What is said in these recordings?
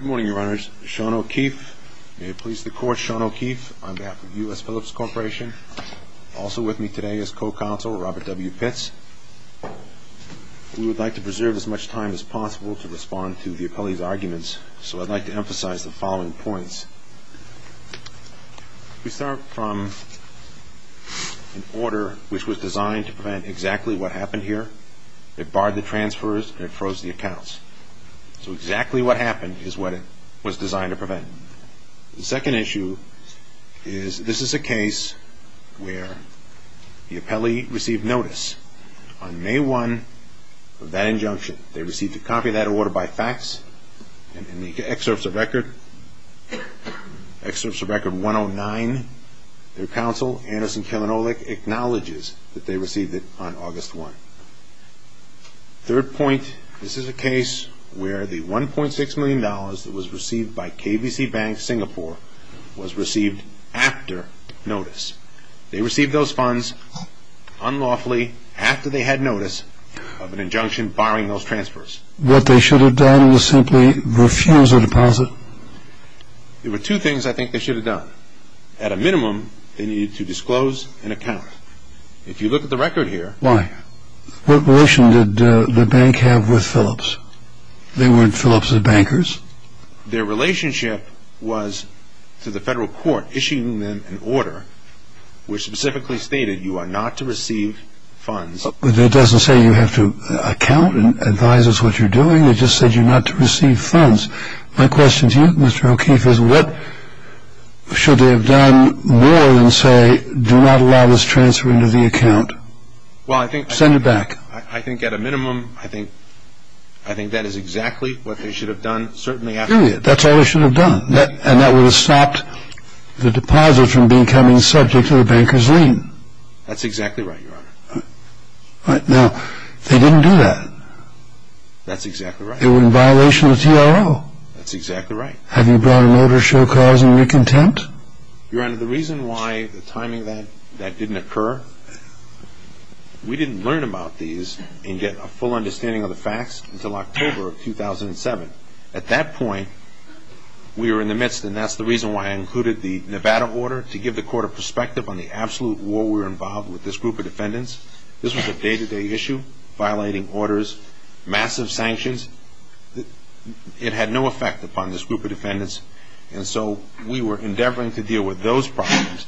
Good morning, Your Honors. Sean O'Keefe. May it please the Court, Sean O'Keefe on behalf of U.S. Philips Corporation. Also with me today is Co-Counsel Robert W. Pitts. We would like to preserve as much time as possible to respond to the appellee's arguments, so I'd like to emphasize the following points. We start from an order which was designed to prevent exactly what happened here. It barred the transfers and it froze the accounts. So exactly what happened is what it was designed to prevent. The second issue is this is a case where the appellee received notice on May 1 of that injunction. They received a copy of that order by fax, and in the excerpts of Record 109, their counsel, Anderson Kilinolic, acknowledges that they received it on August 1. Third point, this is a case where the $1.6 million that was received by KBC Bank Singapore was received after notice. They received those funds unlawfully after they had notice of an injunction barring those transfers. What they should have done was simply refuse a deposit. There were two things I think they should have done. At a minimum, they needed to disclose an account. If you look at the record here. Why? What relation did the bank have with Phillips? They weren't Phillips' bankers. Their relationship was to the federal court issuing them an order which specifically stated you are not to receive funds. But that doesn't say you have to account and advise us what you're doing. It just said you're not to receive funds. My question to you, Mr. O'Keefe, is what should they have done more than say do not allow this transfer into the account? Send it back. I think at a minimum, I think that is exactly what they should have done. That's all they should have done, and that would have stopped the deposit from becoming subject to the banker's lien. That's exactly right, Your Honor. Now, they didn't do that. That's exactly right. They were in violation of the TRO. That's exactly right. Have you brought an order to show cause and recontent? Your Honor, the reason why the timing of that didn't occur, we didn't learn about these and get a full understanding of the facts until October of 2007. At that point, we were in the midst, and that's the reason why I included the Nevada order, to give the court a perspective on the absolute war we were involved with this group of defendants. This was a day-to-day issue, violating orders, massive sanctions. It had no effect upon this group of defendants, and so we were endeavoring to deal with those problems.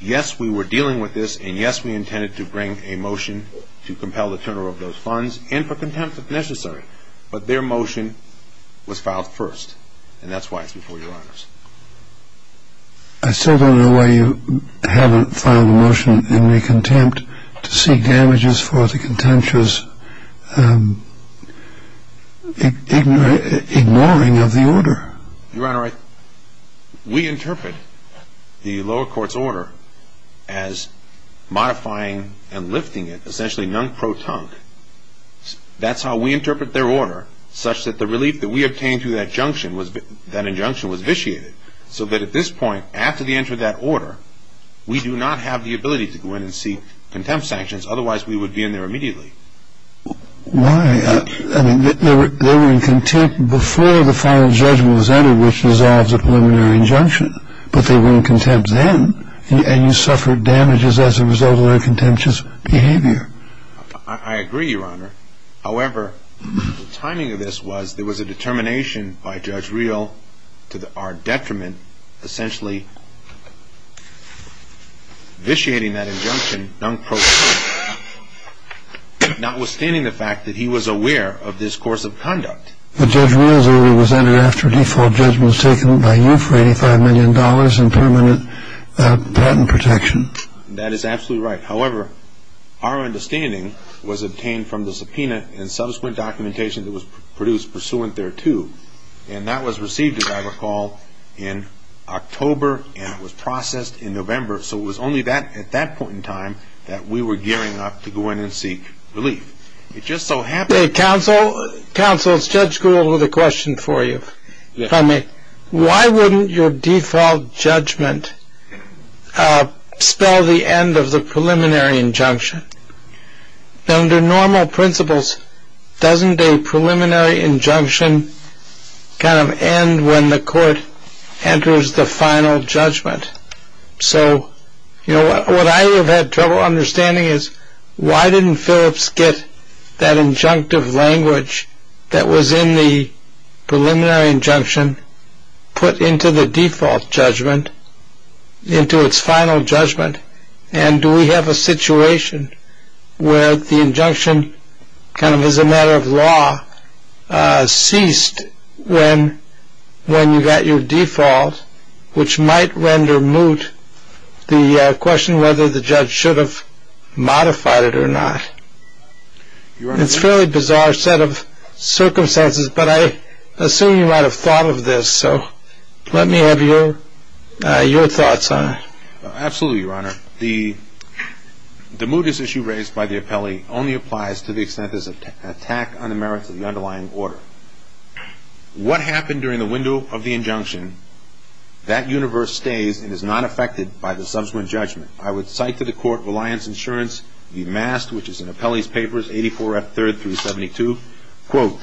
Yes, we were dealing with this, and yes, we intended to bring a motion to compel the turnover of those funds and for contempt if necessary, but their motion was filed first, and that's why it's before Your Honors. I still don't know why you haven't filed a motion in recontempt to seek damages for the contemptuous ignoring of the order. Your Honor, we interpret the lower court's order as modifying and lifting it, essentially nunc pro tonc. That's how we interpret their order, such that the relief that we obtained through that injunction was vitiated, so that at this point, after the enter of that order, we do not have the ability to go in and seek contempt sanctions. Otherwise, we would be in there immediately. Why? I mean, they were in contempt before the final judgment was entered, which dissolves a preliminary injunction, but they were in contempt then, and you suffered damages as a result of their contemptuous behavior. I agree, Your Honor. However, the timing of this was there was a determination by Judge Reel to our detriment, essentially vitiating that injunction nunc pro tonc, notwithstanding the fact that he was aware of this course of conduct. But Judge Reel's order was entered after a default judgment was taken by you for $85 million in permanent patent protection. That is absolutely right. However, our understanding was obtained from the subpoena and subsequent documentation that was produced pursuant thereto, and that was received, as I recall, in October, and it was processed in November. So it was only at that point in time that we were gearing up to go in and seek relief. It just so happened that- Counsel, Counsel, Judge Gould has a question for you, if I may. Why wouldn't your default judgment spell the end of the preliminary injunction? Under normal principles, doesn't a preliminary injunction kind of end when the court enters the final judgment? So, you know, what I have had trouble understanding is why didn't Phillips get that injunctive language that was in the preliminary injunction put into the default judgment, into its final judgment? And do we have a situation where the injunction kind of as a matter of law ceased when you got your default, which might render moot the question whether the judge should have modified it or not? It's a fairly bizarre set of circumstances, but I assume you might have thought of this. So let me have your thoughts on it. Absolutely, Your Honor. The mootness issue raised by the appellee only applies to the extent there's an attack on the merits of the underlying order. What happened during the window of the injunction, that universe stays and is not affected by the subsequent judgment. I would cite to the court Reliance Insurance, the MAST, which is in Appellee's Papers 84F3-372, quote,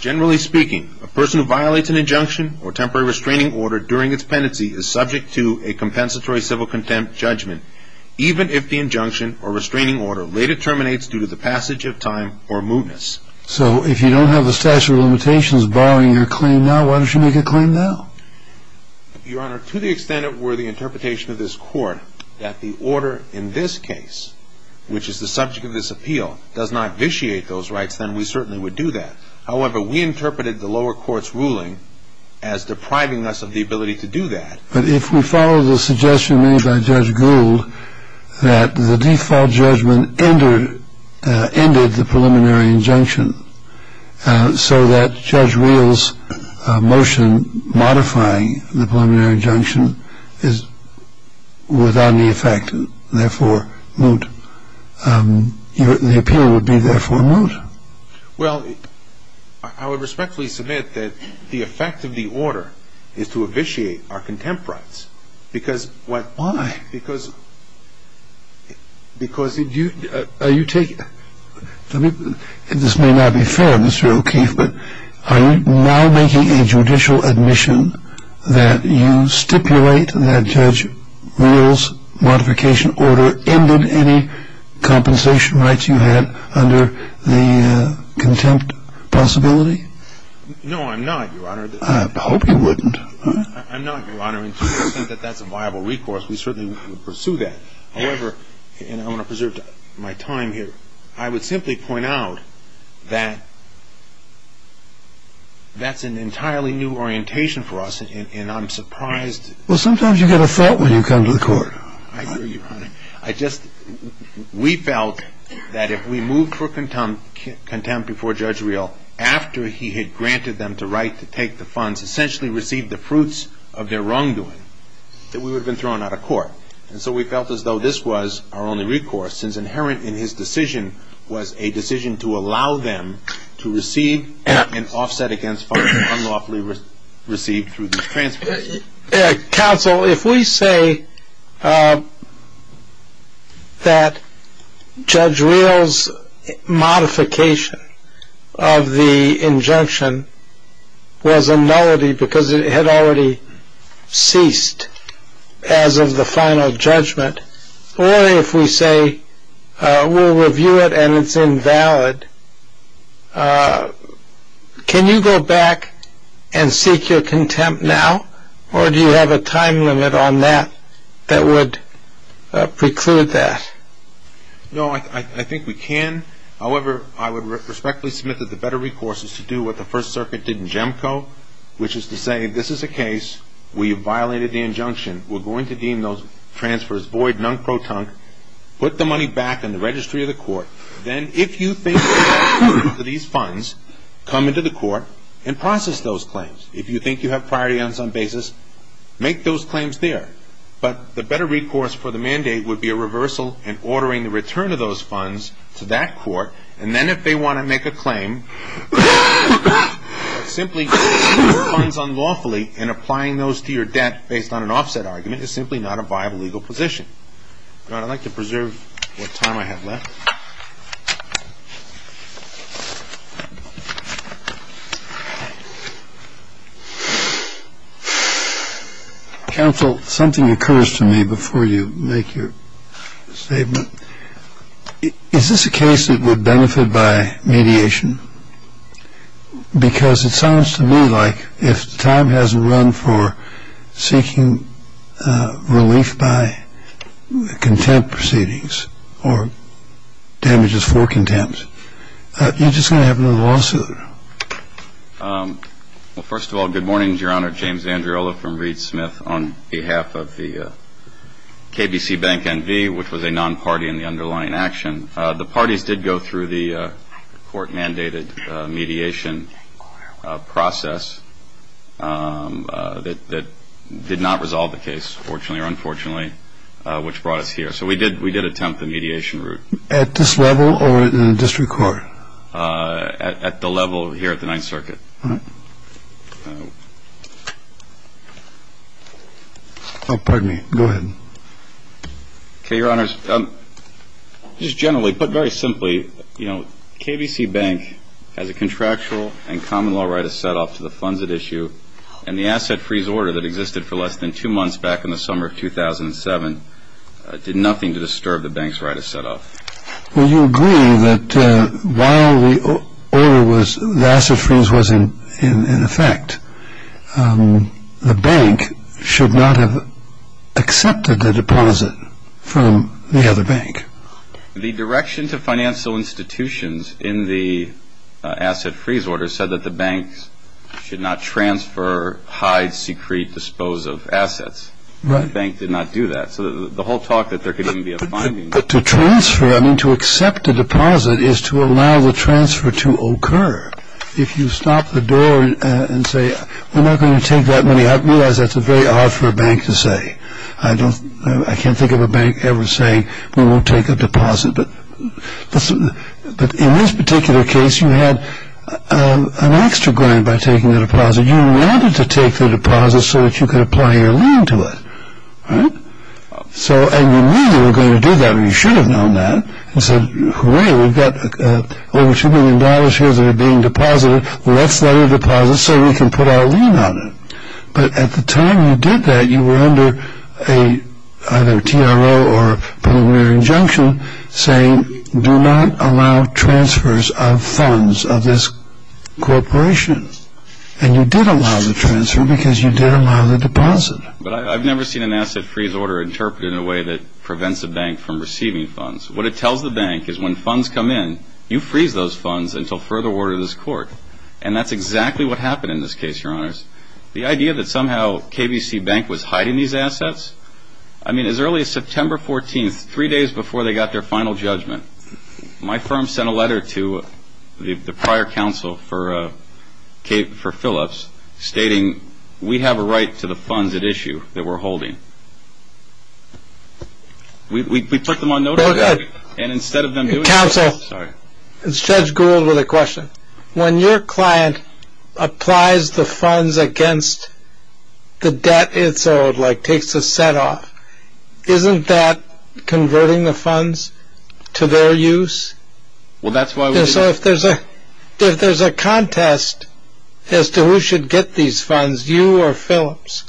Generally speaking, a person who violates an injunction or temporary restraining order during its pendency is subject to a compensatory civil contempt judgment, even if the injunction or restraining order later terminates due to the passage of time or mootness. So if you don't have the statute of limitations barring your claim now, why don't you make a claim now? Your Honor, to the extent it were the interpretation of this court that the order in this case, which is the subject of this appeal, does not vitiate those rights, then we certainly would do that. However, we interpreted the lower court's ruling as depriving us of the ability to do that. But if we follow the suggestion made by Judge Gould that the default judgment ended the preliminary injunction so that Judge Wheel's motion modifying the preliminary injunction is without any effect and therefore moot, the appeal would be therefore moot. Well, I would respectfully submit that the effect of the order is to vitiate our contempt rights. Why? Because if you take it, this may not be fair, Mr. O'Keefe, but are you now making a judicial admission that you stipulate that Judge Wheel's modification order ended any compensation rights you had under the contempt possibility? No, I'm not, Your Honor. I hope you wouldn't. I'm not, Your Honor. To the extent that that's a viable recourse, we certainly would pursue that. However, and I want to preserve my time here, I would simply point out that that's an entirely new orientation for us, and I'm surprised. Well, sometimes you get a thought when you come to the court. I hear you, Your Honor. We felt that if we moved for contempt before Judge Wheel, after he had granted them the right to take the funds, essentially received the fruits of their wrongdoing, that we would have been thrown out of court. And so we felt as though this was our only recourse, since inherent in his decision was a decision to allow them to receive and offset against funds unlawfully received through this transfer. Counsel, if we say that Judge Wheel's modification of the injunction was a nullity because it had already ceased as of the final judgment, or if we say we'll review it and it's invalid, can you go back and seek your contempt now, or do you have a time limit on that that would preclude that? No, I think we can. However, I would respectfully submit that the better recourse is to do what the First Circuit did in Jemco, which is to say this is a case where you violated the injunction. We're going to deem those transfers void, non-proton, put the money back in the registry of the court. Then if you think you have priority to these funds, come into the court and process those claims. If you think you have priority on some basis, make those claims there. But the better recourse for the mandate would be a reversal and ordering the return of those funds to that court. And then if they want to make a claim that simply receiving funds unlawfully and applying those to your debt based on an offset argument is simply not a viable legal position. I'd like to preserve what time I have left. Counsel, something occurs to me before you make your statement. Is this a case that would benefit by mediation? Because it sounds to me like if time hasn't run for seeking relief by contempt proceedings or damages for contempt, you're just going to have another lawsuit. Well, first of all, good morning, Your Honor. James Andreola from Reed Smith on behalf of the KDC Bank NV, which was a non-party in the underlying action. The parties did go through the court-mandated mediation process that did not resolve the case, fortunately or unfortunately, which brought us here. So we did attempt the mediation route. At this level or in the district court? At the level here at the Ninth Circuit. Oh, pardon me. Go ahead. Okay, Your Honors, just generally, put very simply, you know, KDC Bank has a contractual and common law right of set-off to the funds at issue, and the asset freeze order that existed for less than two months back in the summer of 2007 did nothing to disturb the bank's right of set-off. Well, you agree that while the asset freeze was in effect, the bank should not have accepted the deposit from the other bank. The direction to financial institutions in the asset freeze order said that the banks should not transfer, hide, secrete, dispose of assets. Right. The bank did not do that. So the whole talk that there could even be a finding. But to transfer, I mean, to accept a deposit is to allow the transfer to occur. If you stop the door and say, we're not going to take that money, I realize that's very hard for a bank to say. I can't think of a bank ever saying, we won't take a deposit. But in this particular case, you had an extra grant by taking the deposit. You wanted to take the deposit so that you could apply your lien to it. Right. So and you knew they were going to do that, or you should have known that. You said, hooray, we've got over $2 million here that are being deposited. Let's let it deposit so we can put our lien on it. But at the time you did that, you were under either a TRO or a preliminary injunction saying, do not allow transfers of funds of this corporation. And you did allow the transfer because you did allow the deposit. But I've never seen an asset freeze order interpreted in a way that prevents a bank from receiving funds. What it tells the bank is when funds come in, you freeze those funds until further order of this court. And that's exactly what happened in this case, Your Honors. The idea that somehow KVC Bank was hiding these assets, I mean, as early as September 14th, three days before they got their final judgment, my firm sent a letter to the prior counsel for Philips stating, we have a right to the funds at issue that we're holding. We put them on notice. And instead of them doing that. Counsel, it's Judge Gould with a question. When your client applies the funds against the debt it's owed, like takes a set off, isn't that converting the funds to their use? Well, that's why. So if there's a if there's a contest as to who should get these funds, you or Philips,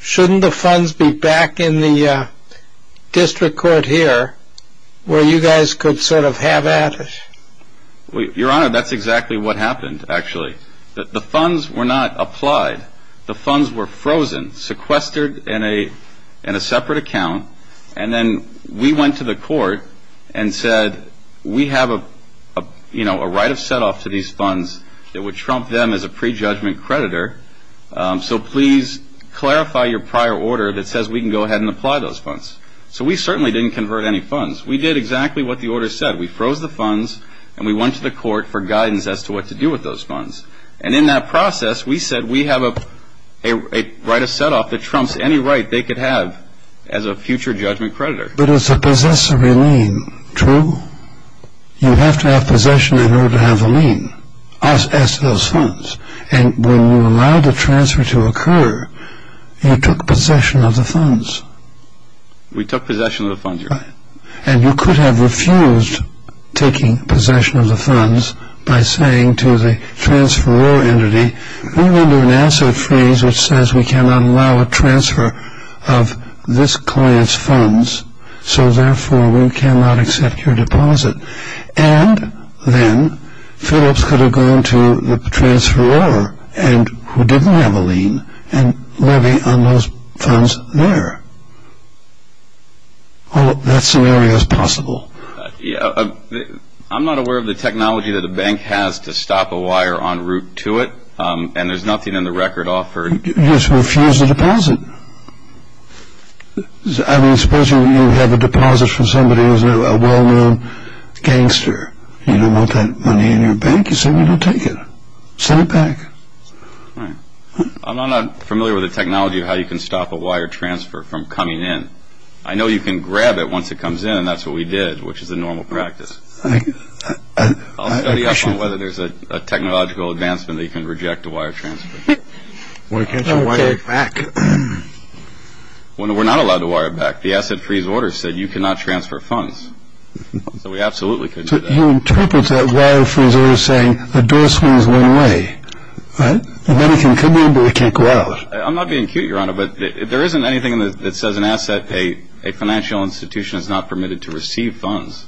shouldn't the funds be back in the district court here where you guys could sort of have at it? Your Honor, that's exactly what happened, actually. The funds were not applied. The funds were frozen, sequestered in a in a separate account. And then we went to the court and said, we have a, you know, a right of set off to these funds that would trump them as a prejudgment creditor. So please clarify your prior order that says we can go ahead and apply those funds. So we certainly didn't convert any funds. We did exactly what the order said. We froze the funds and we went to the court for guidance as to what to do with those funds. And in that process, we said we have a right of set off that trumps any right they could have as a future judgment creditor. But as a possessor of a lien, true? You have to have possession in order to have a lien as to those funds. And when you allowed the transfer to occur, you took possession of the funds. We took possession of the funds, Your Honor. And you could have refused taking possession of the funds by saying to the transferor entity, we render an asset freeze which says we cannot allow a transfer of this client's funds, so therefore we cannot accept your deposit. And then Phillips could have gone to the transferor who didn't have a lien and levy on those funds there. That scenario is possible. I'm not aware of the technology that the bank has to stop a wire en route to it, and there's nothing in the record offering. You just refused the deposit. I mean, suppose you have a deposit from somebody who's a well-known gangster. You don't want that money in your bank. You say we don't take it. Send it back. I'm not familiar with the technology of how you can stop a wire transfer from coming in. I know you can grab it once it comes in, and that's what we did, which is a normal practice. I'll study up on whether there's a technological advancement that you can reject a wire transfer. Why can't you wire it back? We're not allowed to wire it back. The asset freeze order said you cannot transfer funds, so we absolutely could do that. You interpret that wire freeze order saying the door swings one way. The money can come in, but it can't go out. I'm not being cute, Your Honor, but there isn't anything that says an asset, a financial institution, is not permitted to receive funds.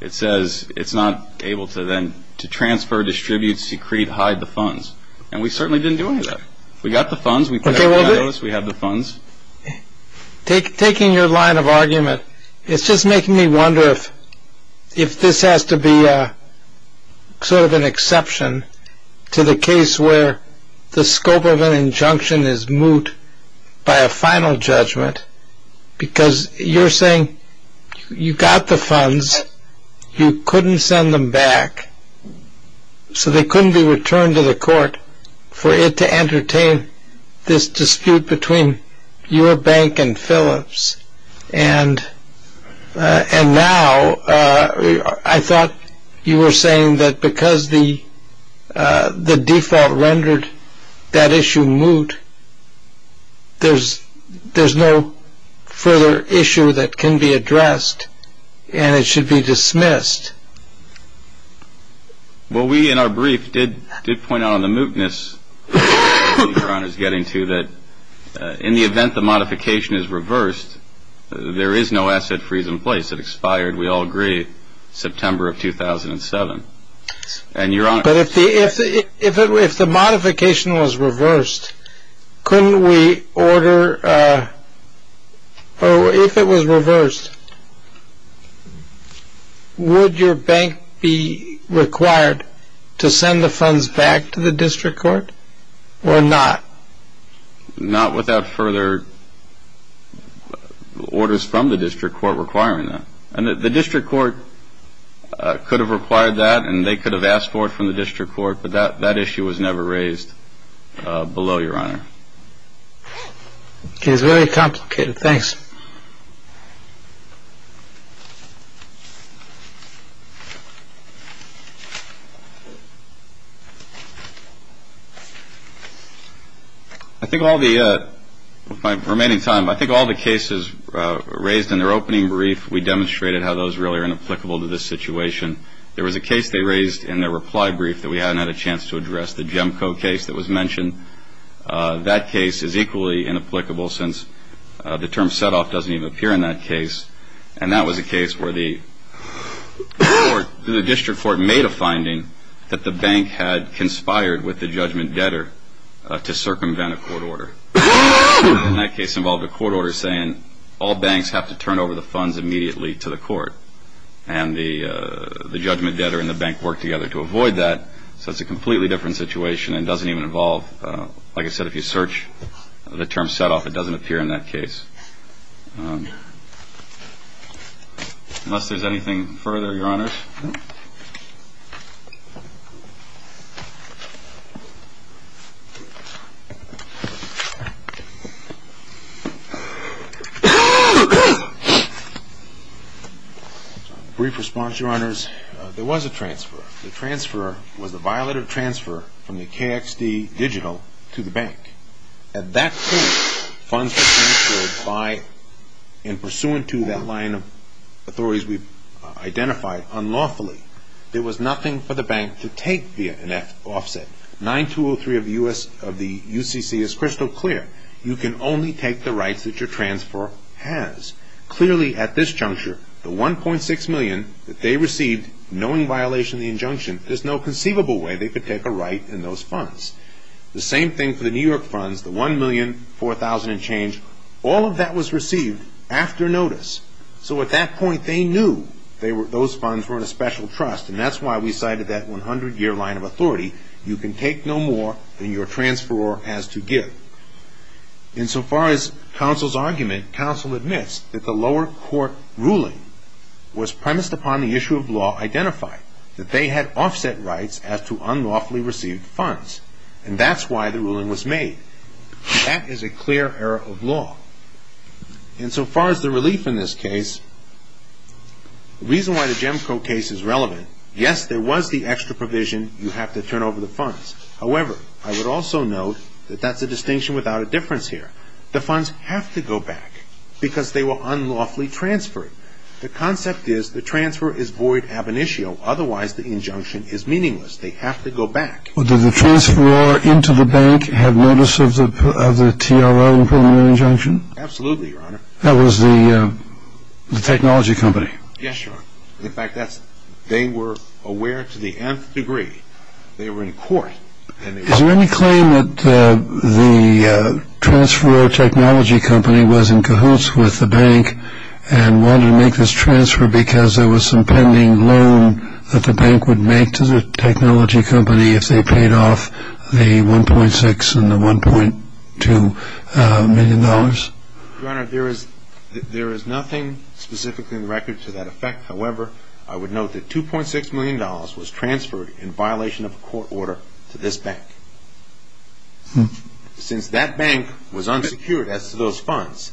It says it's not able to then transfer, distribute, secrete, hide the funds, and we certainly didn't do any of that. We got the funds. We paid our debt. We have the funds. Taking your line of argument, it's just making me wonder if this has to be sort of an exception to the case where the scope of an injunction is moot by a final judgment because you're saying you got the funds. You couldn't send them back, so they couldn't be returned to the court for it to entertain this dispute between your bank and Phillips. And now I thought you were saying that because the default rendered that issue moot, there's no further issue that can be addressed and it should be dismissed. Well, we in our brief did point out on the mootness that you're getting to that in the event the modification is reversed, there is no asset freeze in place. It expired, we all agree, September of 2007. But if the modification was reversed, couldn't we order or if it was reversed, would your bank be required to send the funds back to the district court or not? Not without further orders from the district court requiring that. And the district court could have required that and they could have asked for it from the district court. But that issue was never raised below your honor. It is very complicated. Thanks. I think all the remaining time, I think all the cases raised in their opening brief, we demonstrated how those really are inapplicable to this situation. There was a case they raised in their reply brief that we hadn't had a chance to address, the Jemco case that was mentioned. That case is equally inapplicable since the term set off doesn't even appear in that case. And that was a case where the district court made a finding that the bank had conspired with the judgment debtor to circumvent a court order. And that case involved a court order saying all banks have to turn over the funds immediately to the court. And the judgment debtor and the bank worked together to avoid that. So it's a completely different situation and doesn't even involve, like I said, if you search the term set off, it doesn't appear in that case. Unless there's anything further, your honors. Brief response, your honors. There was a transfer. The transfer was a violated transfer from the KXD digital to the bank. At that point, funds were transferred by and pursuant to that line of authorities we've identified unlawfully. There was nothing for the bank to take via an offset. 9203 of the UCC is crystal clear. You can only take the rights that your transfer has. Clearly at this juncture, the 1.6 million that they received, knowing violation of the injunction, there's no conceivable way they could take a right in those funds. The same thing for the New York funds, the 1,004,000 and change. All of that was received after notice. So at that point, they knew those funds were in a special trust, and that's why we cited that 100-year line of authority. You can take no more than your transferor has to give. Insofar as counsel's argument, counsel admits that the lower court ruling was premised upon the issue of law identified, that they had offset rights as to unlawfully received funds, and that's why the ruling was made. That is a clear error of law. And so far as the relief in this case, the reason why the Jemco case is relevant, yes, there was the extra provision you have to turn over the funds. However, I would also note that that's a distinction without a difference here. The funds have to go back because they were unlawfully transferred. The concept is the transfer is void ab initio. Otherwise, the injunction is meaningless. They have to go back. Well, did the transferor into the bank have notice of the TRO and preliminary injunction? Absolutely, Your Honor. That was the technology company. Yes, Your Honor. In fact, they were aware to the nth degree. They were in court. Is there any claim that the transferor technology company was in cahoots with the bank and wanted to make this transfer because there was some pending loan that the bank would make to the technology company if they paid off the $1.6 million and the $1.2 million? Your Honor, there is nothing specifically in the record to that effect. However, I would note that $2.6 million was transferred in violation of a court order to this bank. Since that bank was unsecured as to those funds,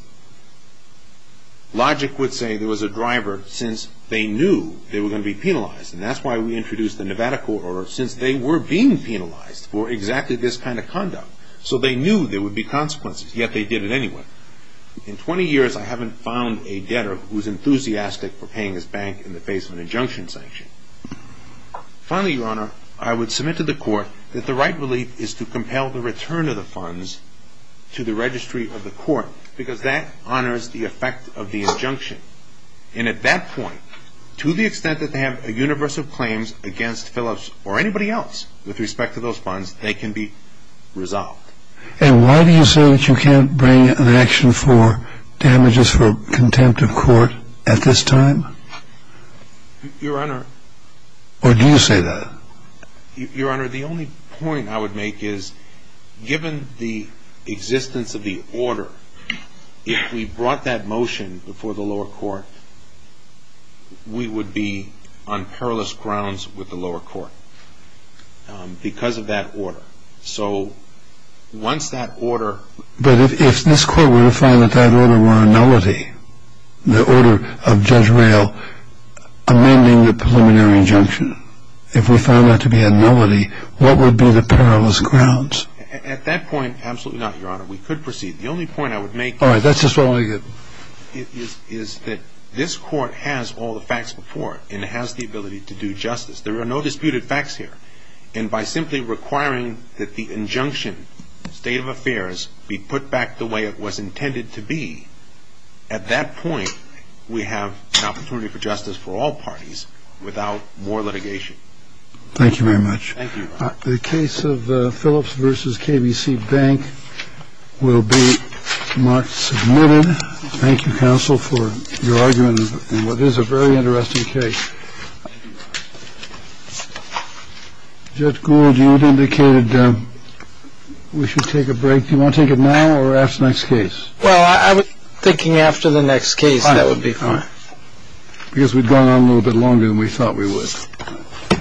logic would say there was a driver since they knew they were going to be penalized, and that's why we introduced the Nevada court order since they were being penalized for exactly this kind of conduct. So they knew there would be consequences, yet they did it anyway. In 20 years, I haven't found a debtor who's enthusiastic for paying his bank in the face of an injunction sanction. Finally, Your Honor, I would submit to the court that the right belief is to compel the return of the funds to the registry of the court because that honors the effect of the injunction. And at that point, to the extent that they have a universe of claims against Phillips or anybody else with respect to those funds, they can be resolved. And why do you say that you can't bring an action for damages for contempt of court at this time? Your Honor. Or do you say that? Your Honor, the only point I would make is, given the existence of the order, if we brought that motion before the lower court, we would be on perilous grounds with the lower court because of that order. So once that order... But if this court were to find that that order were a nullity, the order of Judge Rayl amending the preliminary injunction, if we found that to be a nullity, what would be the perilous grounds? At that point, absolutely not, Your Honor. We could proceed. The only point I would make... All right. That's just what I get. ...is that this court has all the facts before it and it has the ability to do justice. There are no disputed facts here. And by simply requiring that the injunction, State of Affairs, be put back the way it was intended to be, at that point, we have an opportunity for justice for all parties without more litigation. Thank you very much. Thank you, Your Honor. The case of Phillips v. KBC Bank will be marked submitted. Thank you, counsel, for your argument in what is a very interesting case. Judge Gould, you had indicated we should take a break. Do you want to take it now or after the next case? Well, I was thinking after the next case, that would be fine. All right. Because we'd gone on a little bit longer than we thought we would.